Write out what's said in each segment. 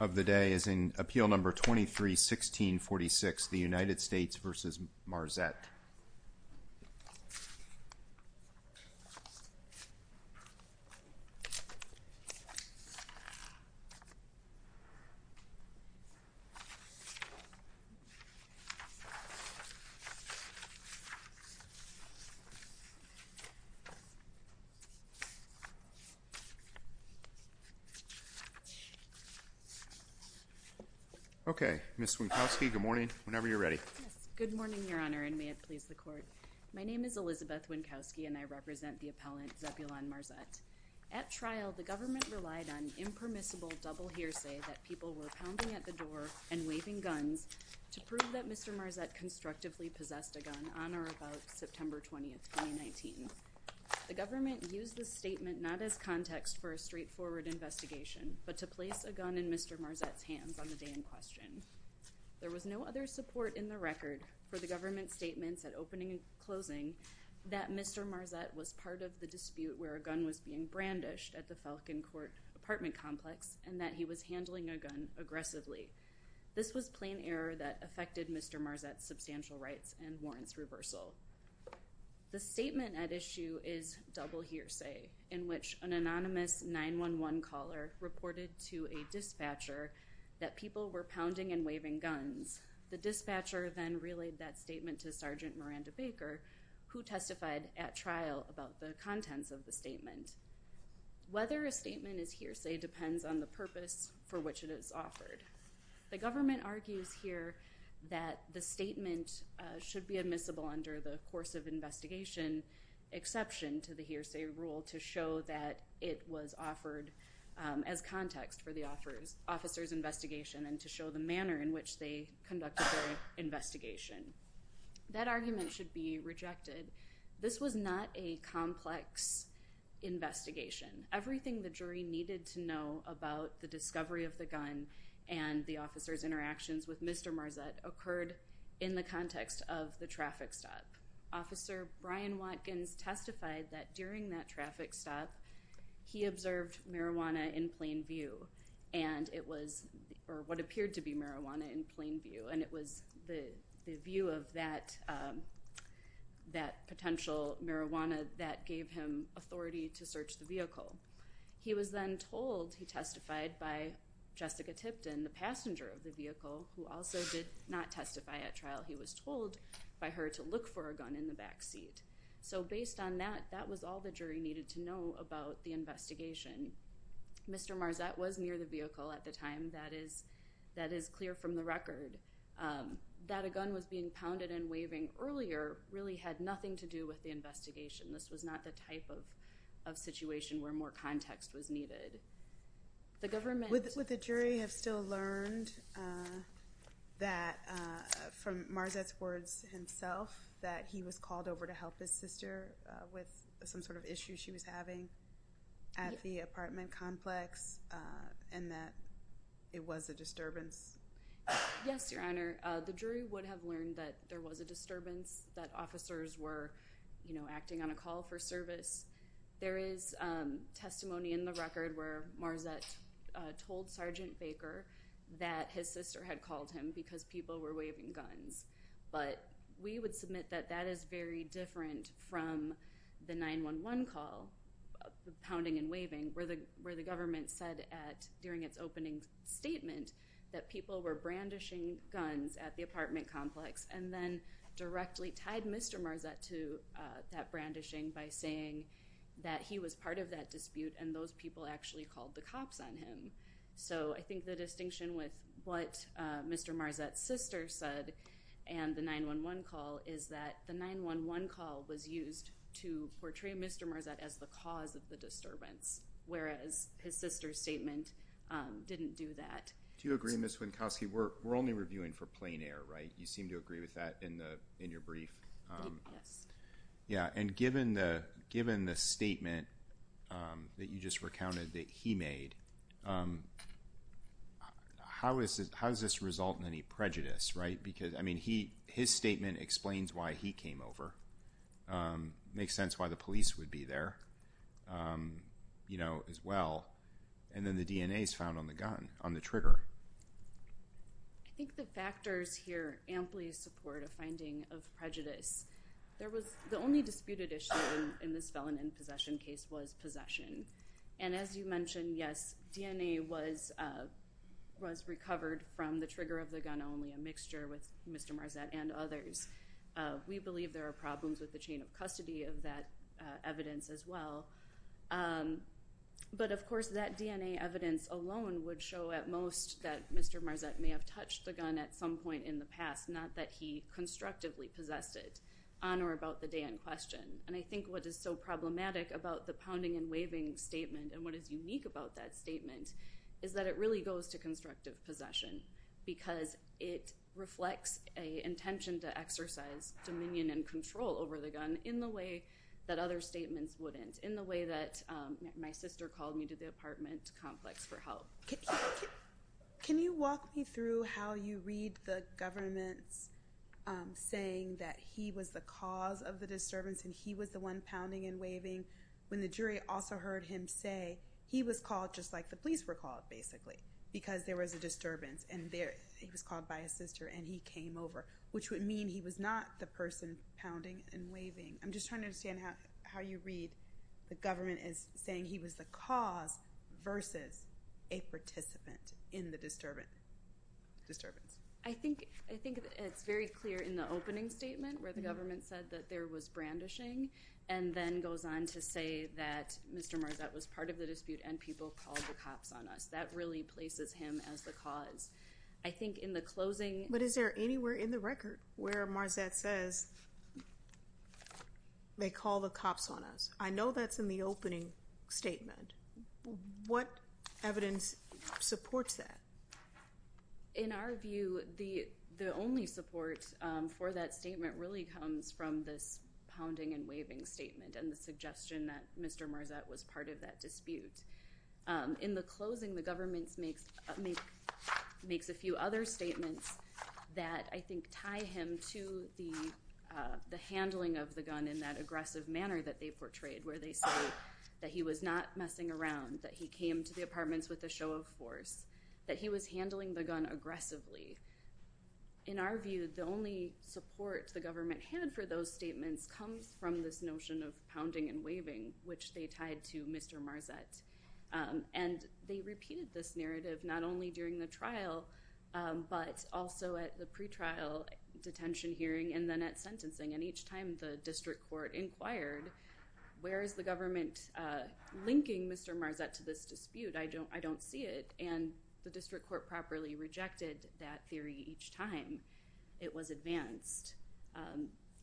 of the day is in appeal number 23-1646, the United States v. Marzette. Okay, Ms. Wienkowski, good morning, whenever you're ready. Good morning, Your Honor, and may it please the Court. My name is Elizabeth Wienkowski, and I represent the appellant, Zebulon Marzette. At trial, the government relied on impermissible double hearsay that people were pounding at the door and waving guns to prove that Mr. Marzette constructively possessed a gun on or about September 20, 2019. The government used this statement not as context for a straightforward investigation, but to place a gun in Mr. Marzette's hands on the day in question. There was no other support in the record for the government's statements at opening and closing that Mr. Marzette was part of the dispute where a gun was being brandished at the Falcon Court apartment complex and that he was handling a gun aggressively. This was plain error that affected Mr. Marzette's substantial rights and warrants reversal. The statement at issue is double hearsay, in which an anonymous 911 caller reported to a dispatcher that people were pounding and waving guns. The dispatcher then relayed that statement to Sergeant Miranda Baker, who testified at trial about the contents of the statement. Whether a statement is hearsay depends on the purpose for which it is offered. The government argues here that the statement should be admissible under the course of investigation exception to the hearsay rule to show that it was offered as context for the officer's investigation and to show the manner in which they conducted their investigation. That argument should be rejected. This was not a complex investigation. Everything the jury needed to know about the discovery of the gun and the officer's interactions with Mr. Marzette occurred in the context of the traffic stop. Officer Brian Watkins testified that during that traffic stop he observed marijuana in plain view and it was what appeared to be marijuana in plain view and it was the view of that potential marijuana that gave him authority to search the vehicle. He was then told he testified by Jessica Tipton, the passenger of the vehicle, who also did not testify at trial. He was told by her to look for a gun in the back seat. So based on that, that was all the jury needed to know about the investigation. Mr. Marzette was near the vehicle at the time. That is clear from the record. That a gun was being pounded and waving earlier really had nothing to do with the investigation. This was not the type of situation where more context was needed. Would the jury have still learned that from Marzette's words himself that he was called over to help his sister with some sort of issue she was having at the apartment complex and that it was a disturbance? Yes, Your Honor. The jury would have learned that there was a disturbance, that officers were acting on a call for service. There is testimony in the record where Marzette told Sergeant Baker that his sister had called him because people were waving guns. But we would submit that that is very different from the 911 call, the pounding and waving, where the government said during its opening statement that people were brandishing guns at the apartment complex and then directly tied Mr. Marzette to that brandishing by saying that he was part of that dispute and those people actually called the cops on him. So I think the distinction with what Mr. Marzette's sister said and the 911 call is that the 911 call was used to portray Mr. Marzette as the cause of the disturbance, whereas his sister's statement didn't do that. Do you agree, Ms. Wienkowski? We're only reviewing for plain air, right? You seem to agree with that in your brief. Yes. Yeah, and given the statement that you just recounted that he made, how does this result in any prejudice, right? Because, I mean, his statement explains why he came over, makes sense why the police would be there as well, and then the DNA is found on the gun, on the trigger. I think the factors here amply support a finding of prejudice. The only disputed issue in this felon in possession case was possession, and as you mentioned, yes, DNA was recovered from the trigger of the gun only, a mixture with Mr. Marzette and others. We believe there are problems with the chain of custody of that evidence as well. But, of course, that DNA evidence alone would show at most that Mr. Marzette may have touched the gun at some point in the past, not that he constructively possessed it on or about the day in question. And I think what is so problematic about the pounding and waving statement and what is unique about that statement is that it really goes to constructive possession because it reflects an intention to exercise dominion and control over the gun in the way that other statements wouldn't, in the way that my sister called me to the apartment complex for help. Can you walk me through how you read the government's saying that he was the cause of the disturbance and he was the one pounding and waving when the jury also heard him say he was called just like the police were called, basically, because there was a disturbance and he was called by his sister and he came over, which would mean he was not the person pounding and waving. I'm just trying to understand how you read the government as saying he was the cause versus a participant in the disturbance. I think it's very clear in the opening statement where the government said that there was brandishing and then goes on to say that Mr. Marzette was part of the dispute and people called the cops on us. That really places him as the cause. I think in the closing… But is there anywhere in the record where Marzette says they called the cops on us? I know that's in the opening statement. What evidence supports that? In our view, the only support for that statement really comes from this pounding and waving statement and the suggestion that Mr. Marzette was part of that dispute. In the closing, the government makes a few other statements that I think tie him to the handling of the gun in that aggressive manner that they portrayed where they say that he was not messing around, that he came to the apartments with a show of force, that he was handling the gun aggressively. In our view, the only support the government had for those statements comes from this notion of pounding and waving, which they tied to Mr. Marzette. And they repeated this narrative not only during the trial but also at the pre-trial detention hearing and then at sentencing. And each time the district court inquired, where is the government linking Mr. Marzette to this dispute? I don't see it. And the district court properly rejected that theory each time it was advanced.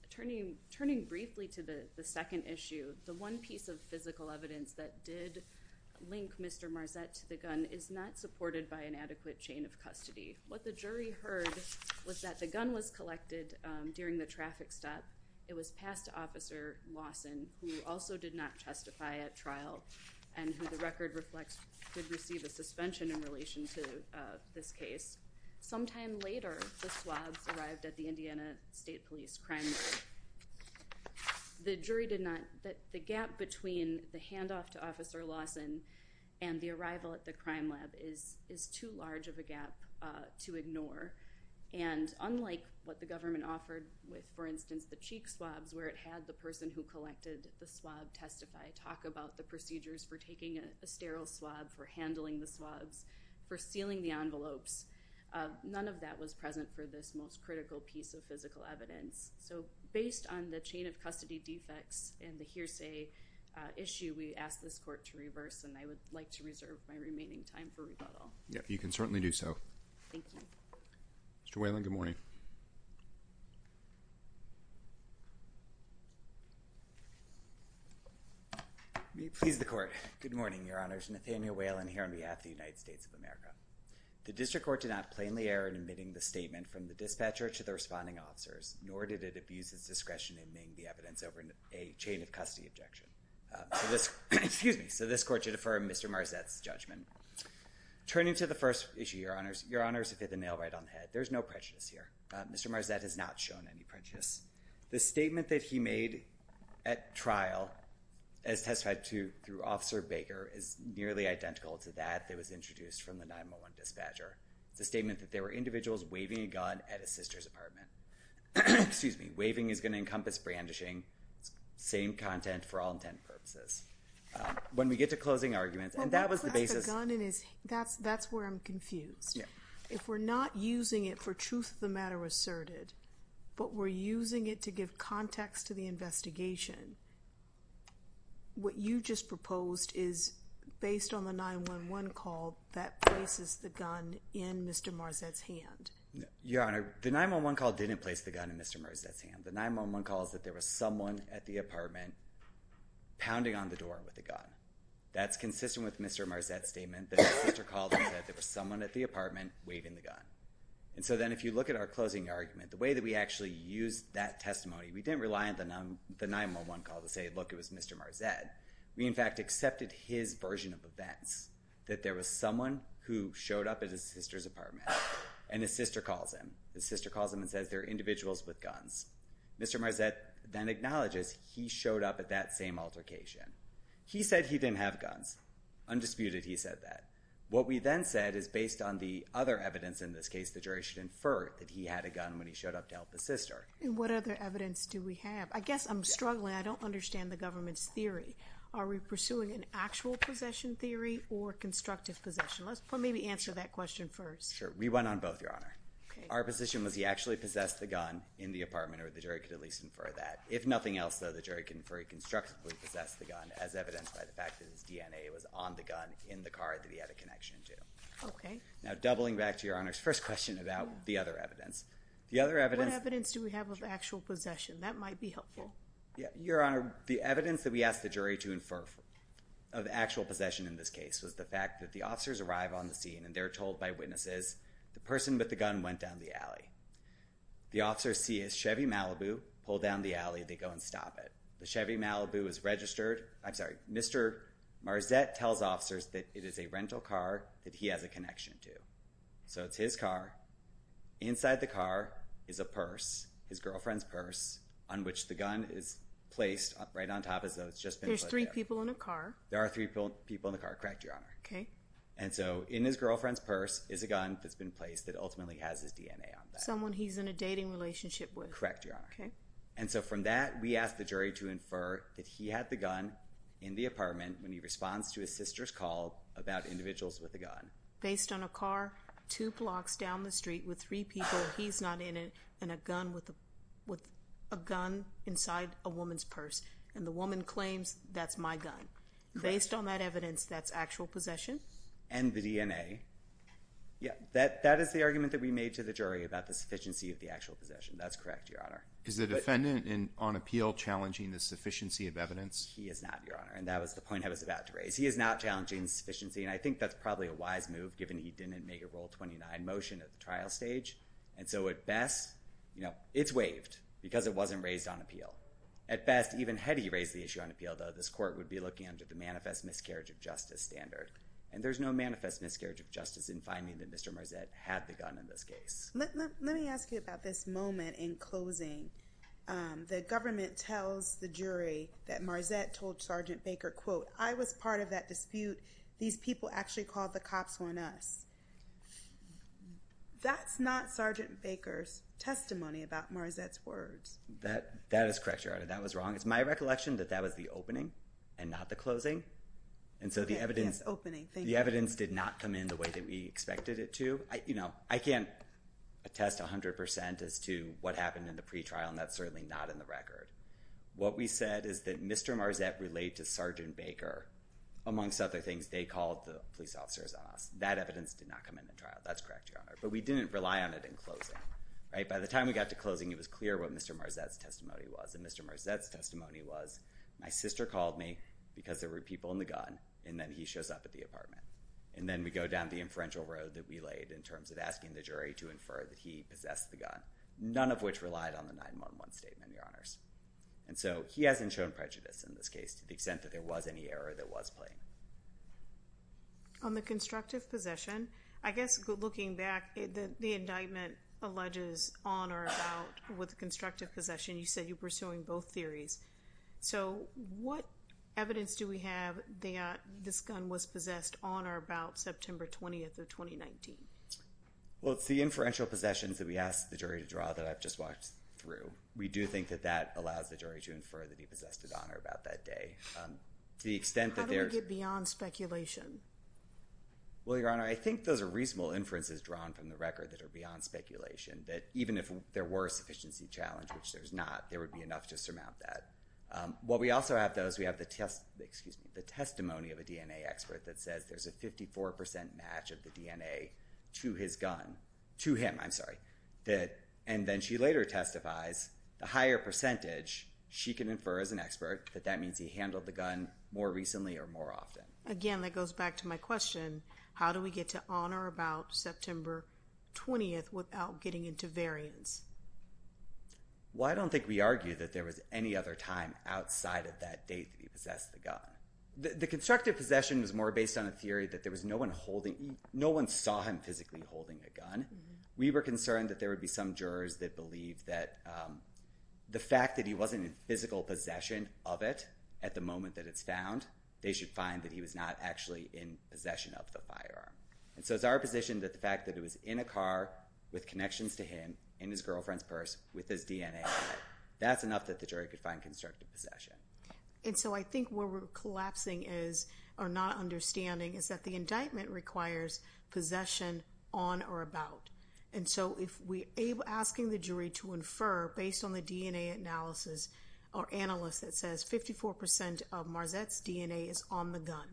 Turning briefly to the second issue, the one piece of physical evidence that did link Mr. Marzette to the gun is not supported by an adequate chain of custody. What the jury heard was that the gun was collected during the traffic stop. It was passed to Officer Lawson, who also did not testify at trial and who the record reflects did receive a suspension in relation to this case. Sometime later, the swabs arrived at the Indiana State Police Crime Lab. The jury did not – the gap between the handoff to Officer Lawson and the to ignore. And unlike what the government offered with, for instance, the cheek swabs where it had the person who collected the swab testify, talk about the procedures for taking a sterile swab, for handling the swabs, for sealing the envelopes, none of that was present for this most critical piece of physical evidence. So based on the chain of custody defects and the hearsay issue, we ask this And I would like to reserve my remaining time for rebuttal. Yeah, you can certainly do so. Mr. Whalen, good morning. May it please the court. Good morning, Your Honors. Nathaniel Whalen here on behalf of the United States of America. The district court did not plainly err in admitting the statement from the dispatcher to the responding officers, nor did it abuse its discretion in naming the evidence over a chain of custody objection. So this – excuse me. So this court should affirm Mr. Marzette's judgment. Turning to the first issue, Your Honors. Your Honors, if you have the nail right on the head, there's no prejudice here. Mr. Marzette has not shown any prejudice. The statement that he made at trial, as testified to through Officer Baker, is nearly identical to that that was introduced from the 911 dispatcher. It's a statement that there were individuals waving a gun at his sister's apartment. Excuse me. Waving is going to encompass brandishing. Same content for all intent and purposes. When we get to closing arguments, and that was the basis. That's where I'm confused. If we're not using it for truth of the matter asserted, but we're using it to give context to the investigation, what you just proposed is, based on the 911 call, that places the gun in Mr. Marzette's hand. Your Honor, the 911 call didn't place the gun in Mr. Marzette's hand. The 911 call is that there was someone at the apartment pounding on the door with a gun. That's consistent with Mr. Marzette's statement that his sister called and said there was someone at the apartment waving the gun. And so then if you look at our closing argument, the way that we actually used that testimony, we didn't rely on the 911 call to say, look, it was Mr. Marzette. We, in fact, accepted his version of events. That there was someone who showed up at his sister's apartment, and his sister calls him. His sister calls him and says there are individuals with guns. Mr. Marzette then acknowledges he showed up at that same altercation. He said he didn't have guns. Undisputed, he said that. What we then said is, based on the other evidence in this case, the jury should infer that he had a gun when he showed up to help his sister. And what other evidence do we have? I guess I'm struggling. I don't understand the government's theory. Are we pursuing an actual possession theory or constructive possession? Let's maybe answer that question first. Sure. We went on both, Your Honor. Our position was he actually possessed the gun in the apartment, or the jury could at least infer that. If nothing else, though, the jury could infer he constructively possessed the gun as evidenced by the fact that his DNA was on the gun in the car that he had a connection to. Okay. Now, doubling back to Your Honor's first question about the other evidence, the other evidence What evidence do we have of actual possession? That might be helpful. Your Honor, the evidence that we asked the jury to infer of actual possession in this case was the fact that the officers arrive on the premises. The person with the gun went down the alley. The officers see a Chevy Malibu pulled down the alley. They go and stop it. The Chevy Malibu is registered. I'm sorry. Mr. Marzette tells officers that it is a rental car that he has a connection to. So it's his car. Inside the car is a purse, his girlfriend's purse, on which the gun is placed right on top of. There's three people in a car. There are three people in the car, correct, Your Honor. Okay. And so in his girlfriend's purse is a gun that's been placed that ultimately has his DNA on that. Someone he's in a dating relationship with. Correct, Your Honor. Okay. And so from that, we asked the jury to infer that he had the gun in the apartment when he responds to his sister's call about individuals with a gun. Based on a car two blocks down the street with three people, he's not in it, and a gun with a gun inside a woman's purse, and the woman claims that's my gun. Correct. And based on that evidence, that's actual possession? And the DNA. Yeah. That is the argument that we made to the jury about the sufficiency of the actual possession. That's correct, Your Honor. Is the defendant on appeal challenging the sufficiency of evidence? He is not, Your Honor, and that was the point I was about to raise. He is not challenging sufficiency, and I think that's probably a wise move given he didn't make a Rule 29 motion at the trial stage. And so at best, you know, it's waived because it wasn't raised on appeal. At best, even had he raised the issue on appeal, though, this court would be looking under the manifest miscarriage of justice standard, and there's no manifest miscarriage of justice in finding that Mr. Marzett had the gun in this case. Let me ask you about this moment in closing. The government tells the jury that Marzett told Sergeant Baker, quote, I was part of that dispute. These people actually called the cops on us. That's not Sergeant Baker's testimony about Marzett's words. That is correct, Your Honor. That was wrong. It's my recollection that that was the opening and not the closing, and so the evidence did not come in the way that we expected it to. I can't attest 100% as to what happened in the pretrial, and that's certainly not in the record. What we said is that Mr. Marzett relayed to Sergeant Baker, amongst other things, they called the police officers on us. That evidence did not come in the trial. That's correct, Your Honor. But we didn't rely on it in closing. By the time we got to closing, it was clear what Mr. Marzett's testimony was. My sister called me because there were people in the gun, and then he shows up at the apartment. Then we go down the inferential road that we laid in terms of asking the jury to infer that he possessed the gun, none of which relied on the 911 statement, Your Honors. He hasn't shown prejudice in this case to the extent that there was any error that was plain. On the constructive possession, I guess looking back, the indictment alleges on or about with constructive possession. You said you're pursuing both theories. So what evidence do we have that this gun was possessed on or about September 20th of 2019? Well, it's the inferential possessions that we asked the jury to draw that I've just walked through. We do think that that allows the jury to infer that he possessed it on or about that day. How do we get beyond speculation? Well, Your Honor, I think those are reasonable inferences drawn from the record that are beyond speculation, that even if there were a doubt, there would be enough to surmount that. While we also have those, we have the testimony of a DNA expert that says there's a 54% match of the DNA to his gun, to him, I'm sorry, and then she later testifies the higher percentage she can infer as an expert that that means he handled the gun more recently or more often. Again, that goes back to my question. How do we get to on or about September 20th without getting into variance? Well, I don't think we argue that there was any other time outside of that date that he possessed the gun. The constructive possession was more based on a theory that there was no one holding – no one saw him physically holding a gun. We were concerned that there would be some jurors that believed that the fact that he wasn't in physical possession of it at the moment that it's found, they should find that he was not actually in possession of the firearm. And so it's our position that the fact that it was in a car with his girlfriend's purse with his DNA on it, that's enough that the jury could find constructive possession. And so I think where we're collapsing is – or not understanding is that the indictment requires possession on or about. And so if we're asking the jury to infer based on the DNA analysis or analyst that says 54% of Marzette's DNA is on the gun,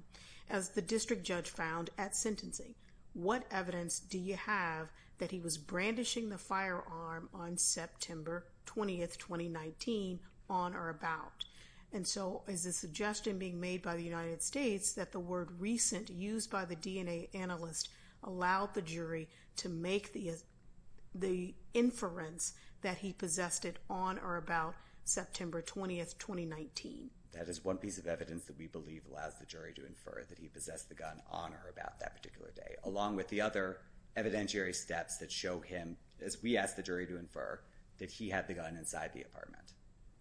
as the district judge found at sentencing, what evidence do you have that he was brandishing the firearm on September 20th, 2019, on or about? And so is the suggestion being made by the United States that the word recent used by the DNA analyst allowed the jury to make the inference that he possessed it on or about September 20th, 2019? That is one piece of evidence that we believe allows the jury to infer that he possessed the gun on or about that particular day, along with the other evidentiary steps that show him, as we ask the jury to infer, that he had the gun inside the apartment.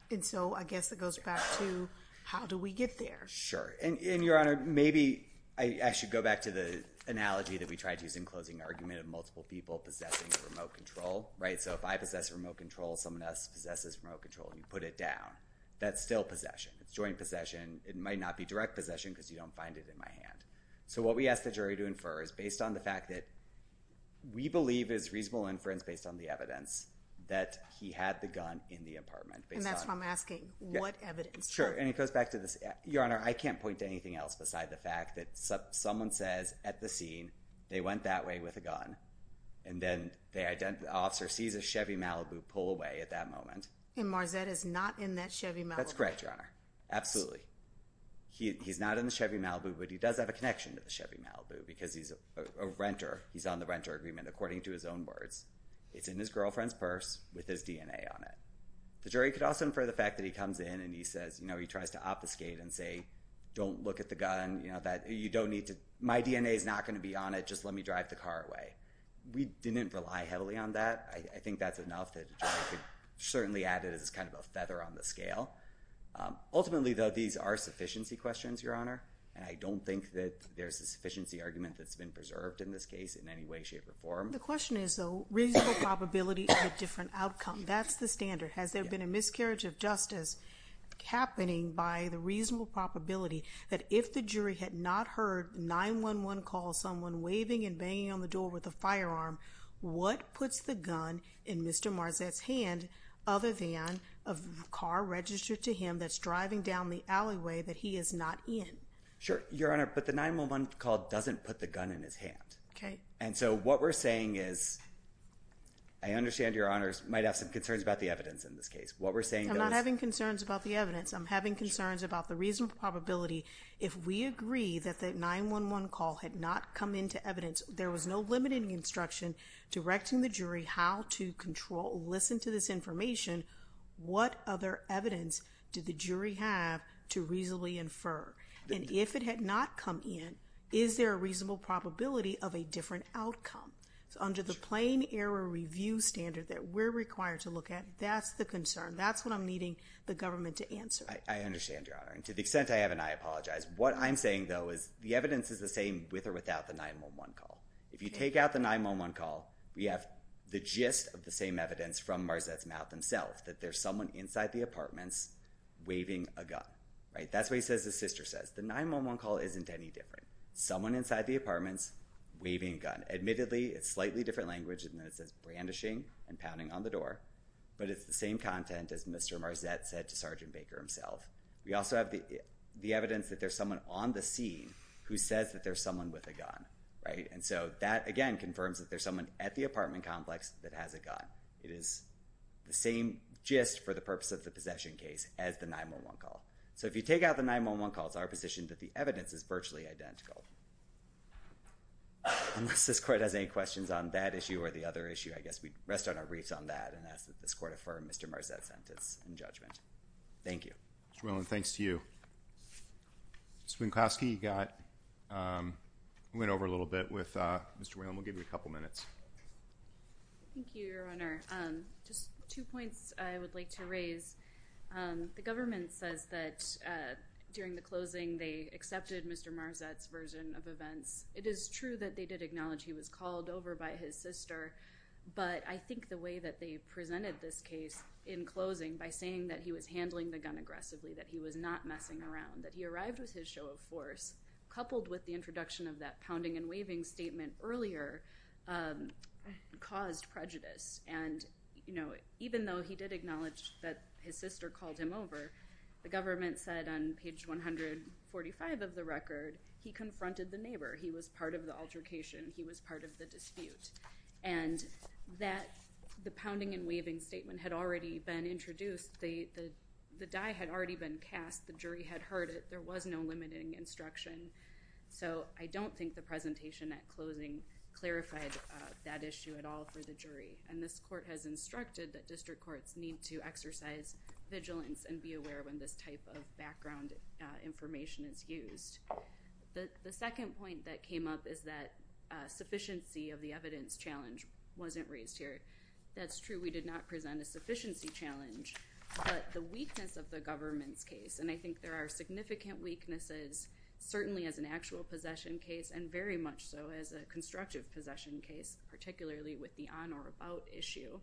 And so I guess it goes back to how do we get there? Sure. And, Your Honor, maybe I should go back to the analogy that we tried to use in closing argument of multiple people possessing remote control, right? So if I possess remote control, someone else possesses remote control, you put it down. That's still possession. It's joint possession. It might not be direct possession because you don't find it in my hand. So what we ask the jury to infer is based on the fact that we believe is reasonable inference based on the evidence that he had the gun in the apartment. And that's what I'm asking. What evidence? Sure. And it goes back to this. Your Honor, I can't point to anything else besides the fact that someone says at the scene, they went that way with a gun, and then the officer sees a Chevy Malibu pull away at that moment. And Marzetta's not in that Chevy Malibu. That's correct, Your Honor. Absolutely. He's not in the Chevy Malibu, but he does have a connection to the Chevy Malibu because he's a renter. He's on the renter agreement according to his own words. It's in his girlfriend's purse with his DNA on it. The jury could also infer the fact that he comes in and he says, you know, he tries to obfuscate and say, don't look at the gun. You don't need to. My DNA is not going to be on it. Just let me drive the car away. We didn't rely heavily on that. I think that's enough that the jury could certainly add it as kind of a feather on the scale. Ultimately, though, these are sufficiency questions, Your Honor, and I don't think that there's a sufficiency argument that's been preserved in this case in any way, shape, or form. The question is, though, reasonable probability of a different outcome. That's the standard. Has there been a miscarriage of justice happening by the reasonable probability that if the jury had not heard 911 call someone waving and banging on the door with a firearm, what puts the gun in Mr. Marzetta's hand other than a car registered to him that's driving down the alleyway that he is not in? Sure, Your Honor, but the 911 call doesn't put the gun in his hand. Okay. And so what we're saying is, I understand Your Honors might have some concerns about the evidence in this case. I'm not having concerns about the evidence. I'm having concerns about the reasonable probability if we agree that the 911 call had not come into evidence, there was no limiting instruction directing the jury how to control, listen to this information, what other evidence did the jury have to reasonably infer? And if it had not come in, is there a reasonable probability of a different outcome? So under the plain error review standard that we're required to look at, that's the concern. That's what I'm needing the government to answer. I understand, Your Honor, and to the extent I have it, I apologize. What I'm saying, though, is the evidence is the same with or without the 911 call. If you take out the 911 call, we have the gist of the same evidence from Marzett's mouth himself, that there's someone inside the apartments waving a gun. Right? That's what he says his sister says. The 911 call isn't any different. Someone inside the apartments waving a gun. Admittedly, it's slightly different language than when it says brandishing and pounding on the door, but it's the same content as Mr. Marzett said to Sergeant Baker himself. there's someone with a gun. Right? And so that, again, confirms that there's someone at the apartment complex that has a gun. It is the same gist for the purpose of the possession case as the 911 call. So if you take out the 911 call, it's our position that the evidence is virtually identical. Unless this Court has any questions on that issue or the other issue, I guess we'd rest on our wreaths on that and ask that this Court affirm Mr. Marzett's sentence and judgment. Thank you. Mr. Whelan, thanks to you. Ms. Wienkoski, you went over a little bit with Mr. Whelan. We'll give you a couple minutes. Thank you, Your Honor. Just two points I would like to raise. The government says that during the closing they accepted Mr. Marzett's version of events. It is true that they did acknowledge he was called over by his sister, but I think the way that they presented this case in closing by saying that he was handling the gun aggressively, that he was not messing around, that he arrived with his show of force coupled with the introduction of that pounding and waving statement earlier caused prejudice. And even though he did acknowledge that his sister called him over, the government said on page 145 of the record he confronted the neighbor. He was part of the altercation. He was part of the dispute. And that the pounding and waving statement had already been introduced. The die had already been cast. The jury had heard it. There was no limiting instruction. So I don't think the presentation at closing clarified that issue at all for the jury. And this court has instructed that district courts need to exercise vigilance and be aware when this type of background information is used. The second point that came up is that sufficiency of the evidence challenge wasn't raised here. That's true. We did not present a sufficiency challenge, but the weakness of the government's case, and I think there are significant weaknesses certainly as an actual possession case and very much so as a constructive possession case, particularly with the on or about issue.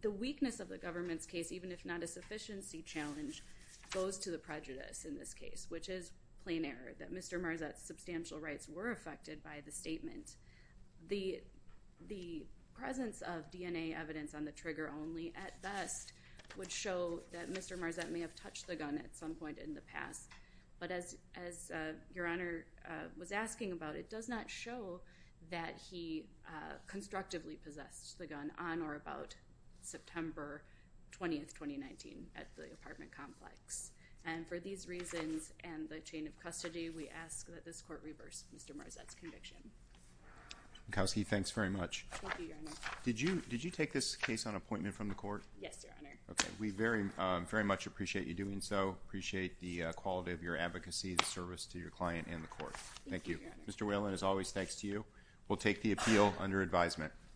The weakness of the government's case, even if not a sufficiency challenge, goes to the prejudice in this case, which is plain error that Mr. Marzat's substantial rights were affected by the statement. The presence of DNA evidence on the trigger only at best would show that Mr. Marzat may have touched the gun at some point in the past. But as your Honor was asking about, it does not show that he constructively possessed the gun on or about September 20th, 2019 at the apartment complex. And for these reasons and the chain of custody, we ask that this court reverse Mr. Marzat's conviction. Malkowski, thanks very much. Thank you, Your Honor. Did you take this case on appointment from the court? Yes, Your Honor. Okay. We very much appreciate you doing so, appreciate the quality of your advocacy, the service to your client and the court. Thank you. Mr. Whalen, as always, thanks to you. We'll take the appeal under advisement.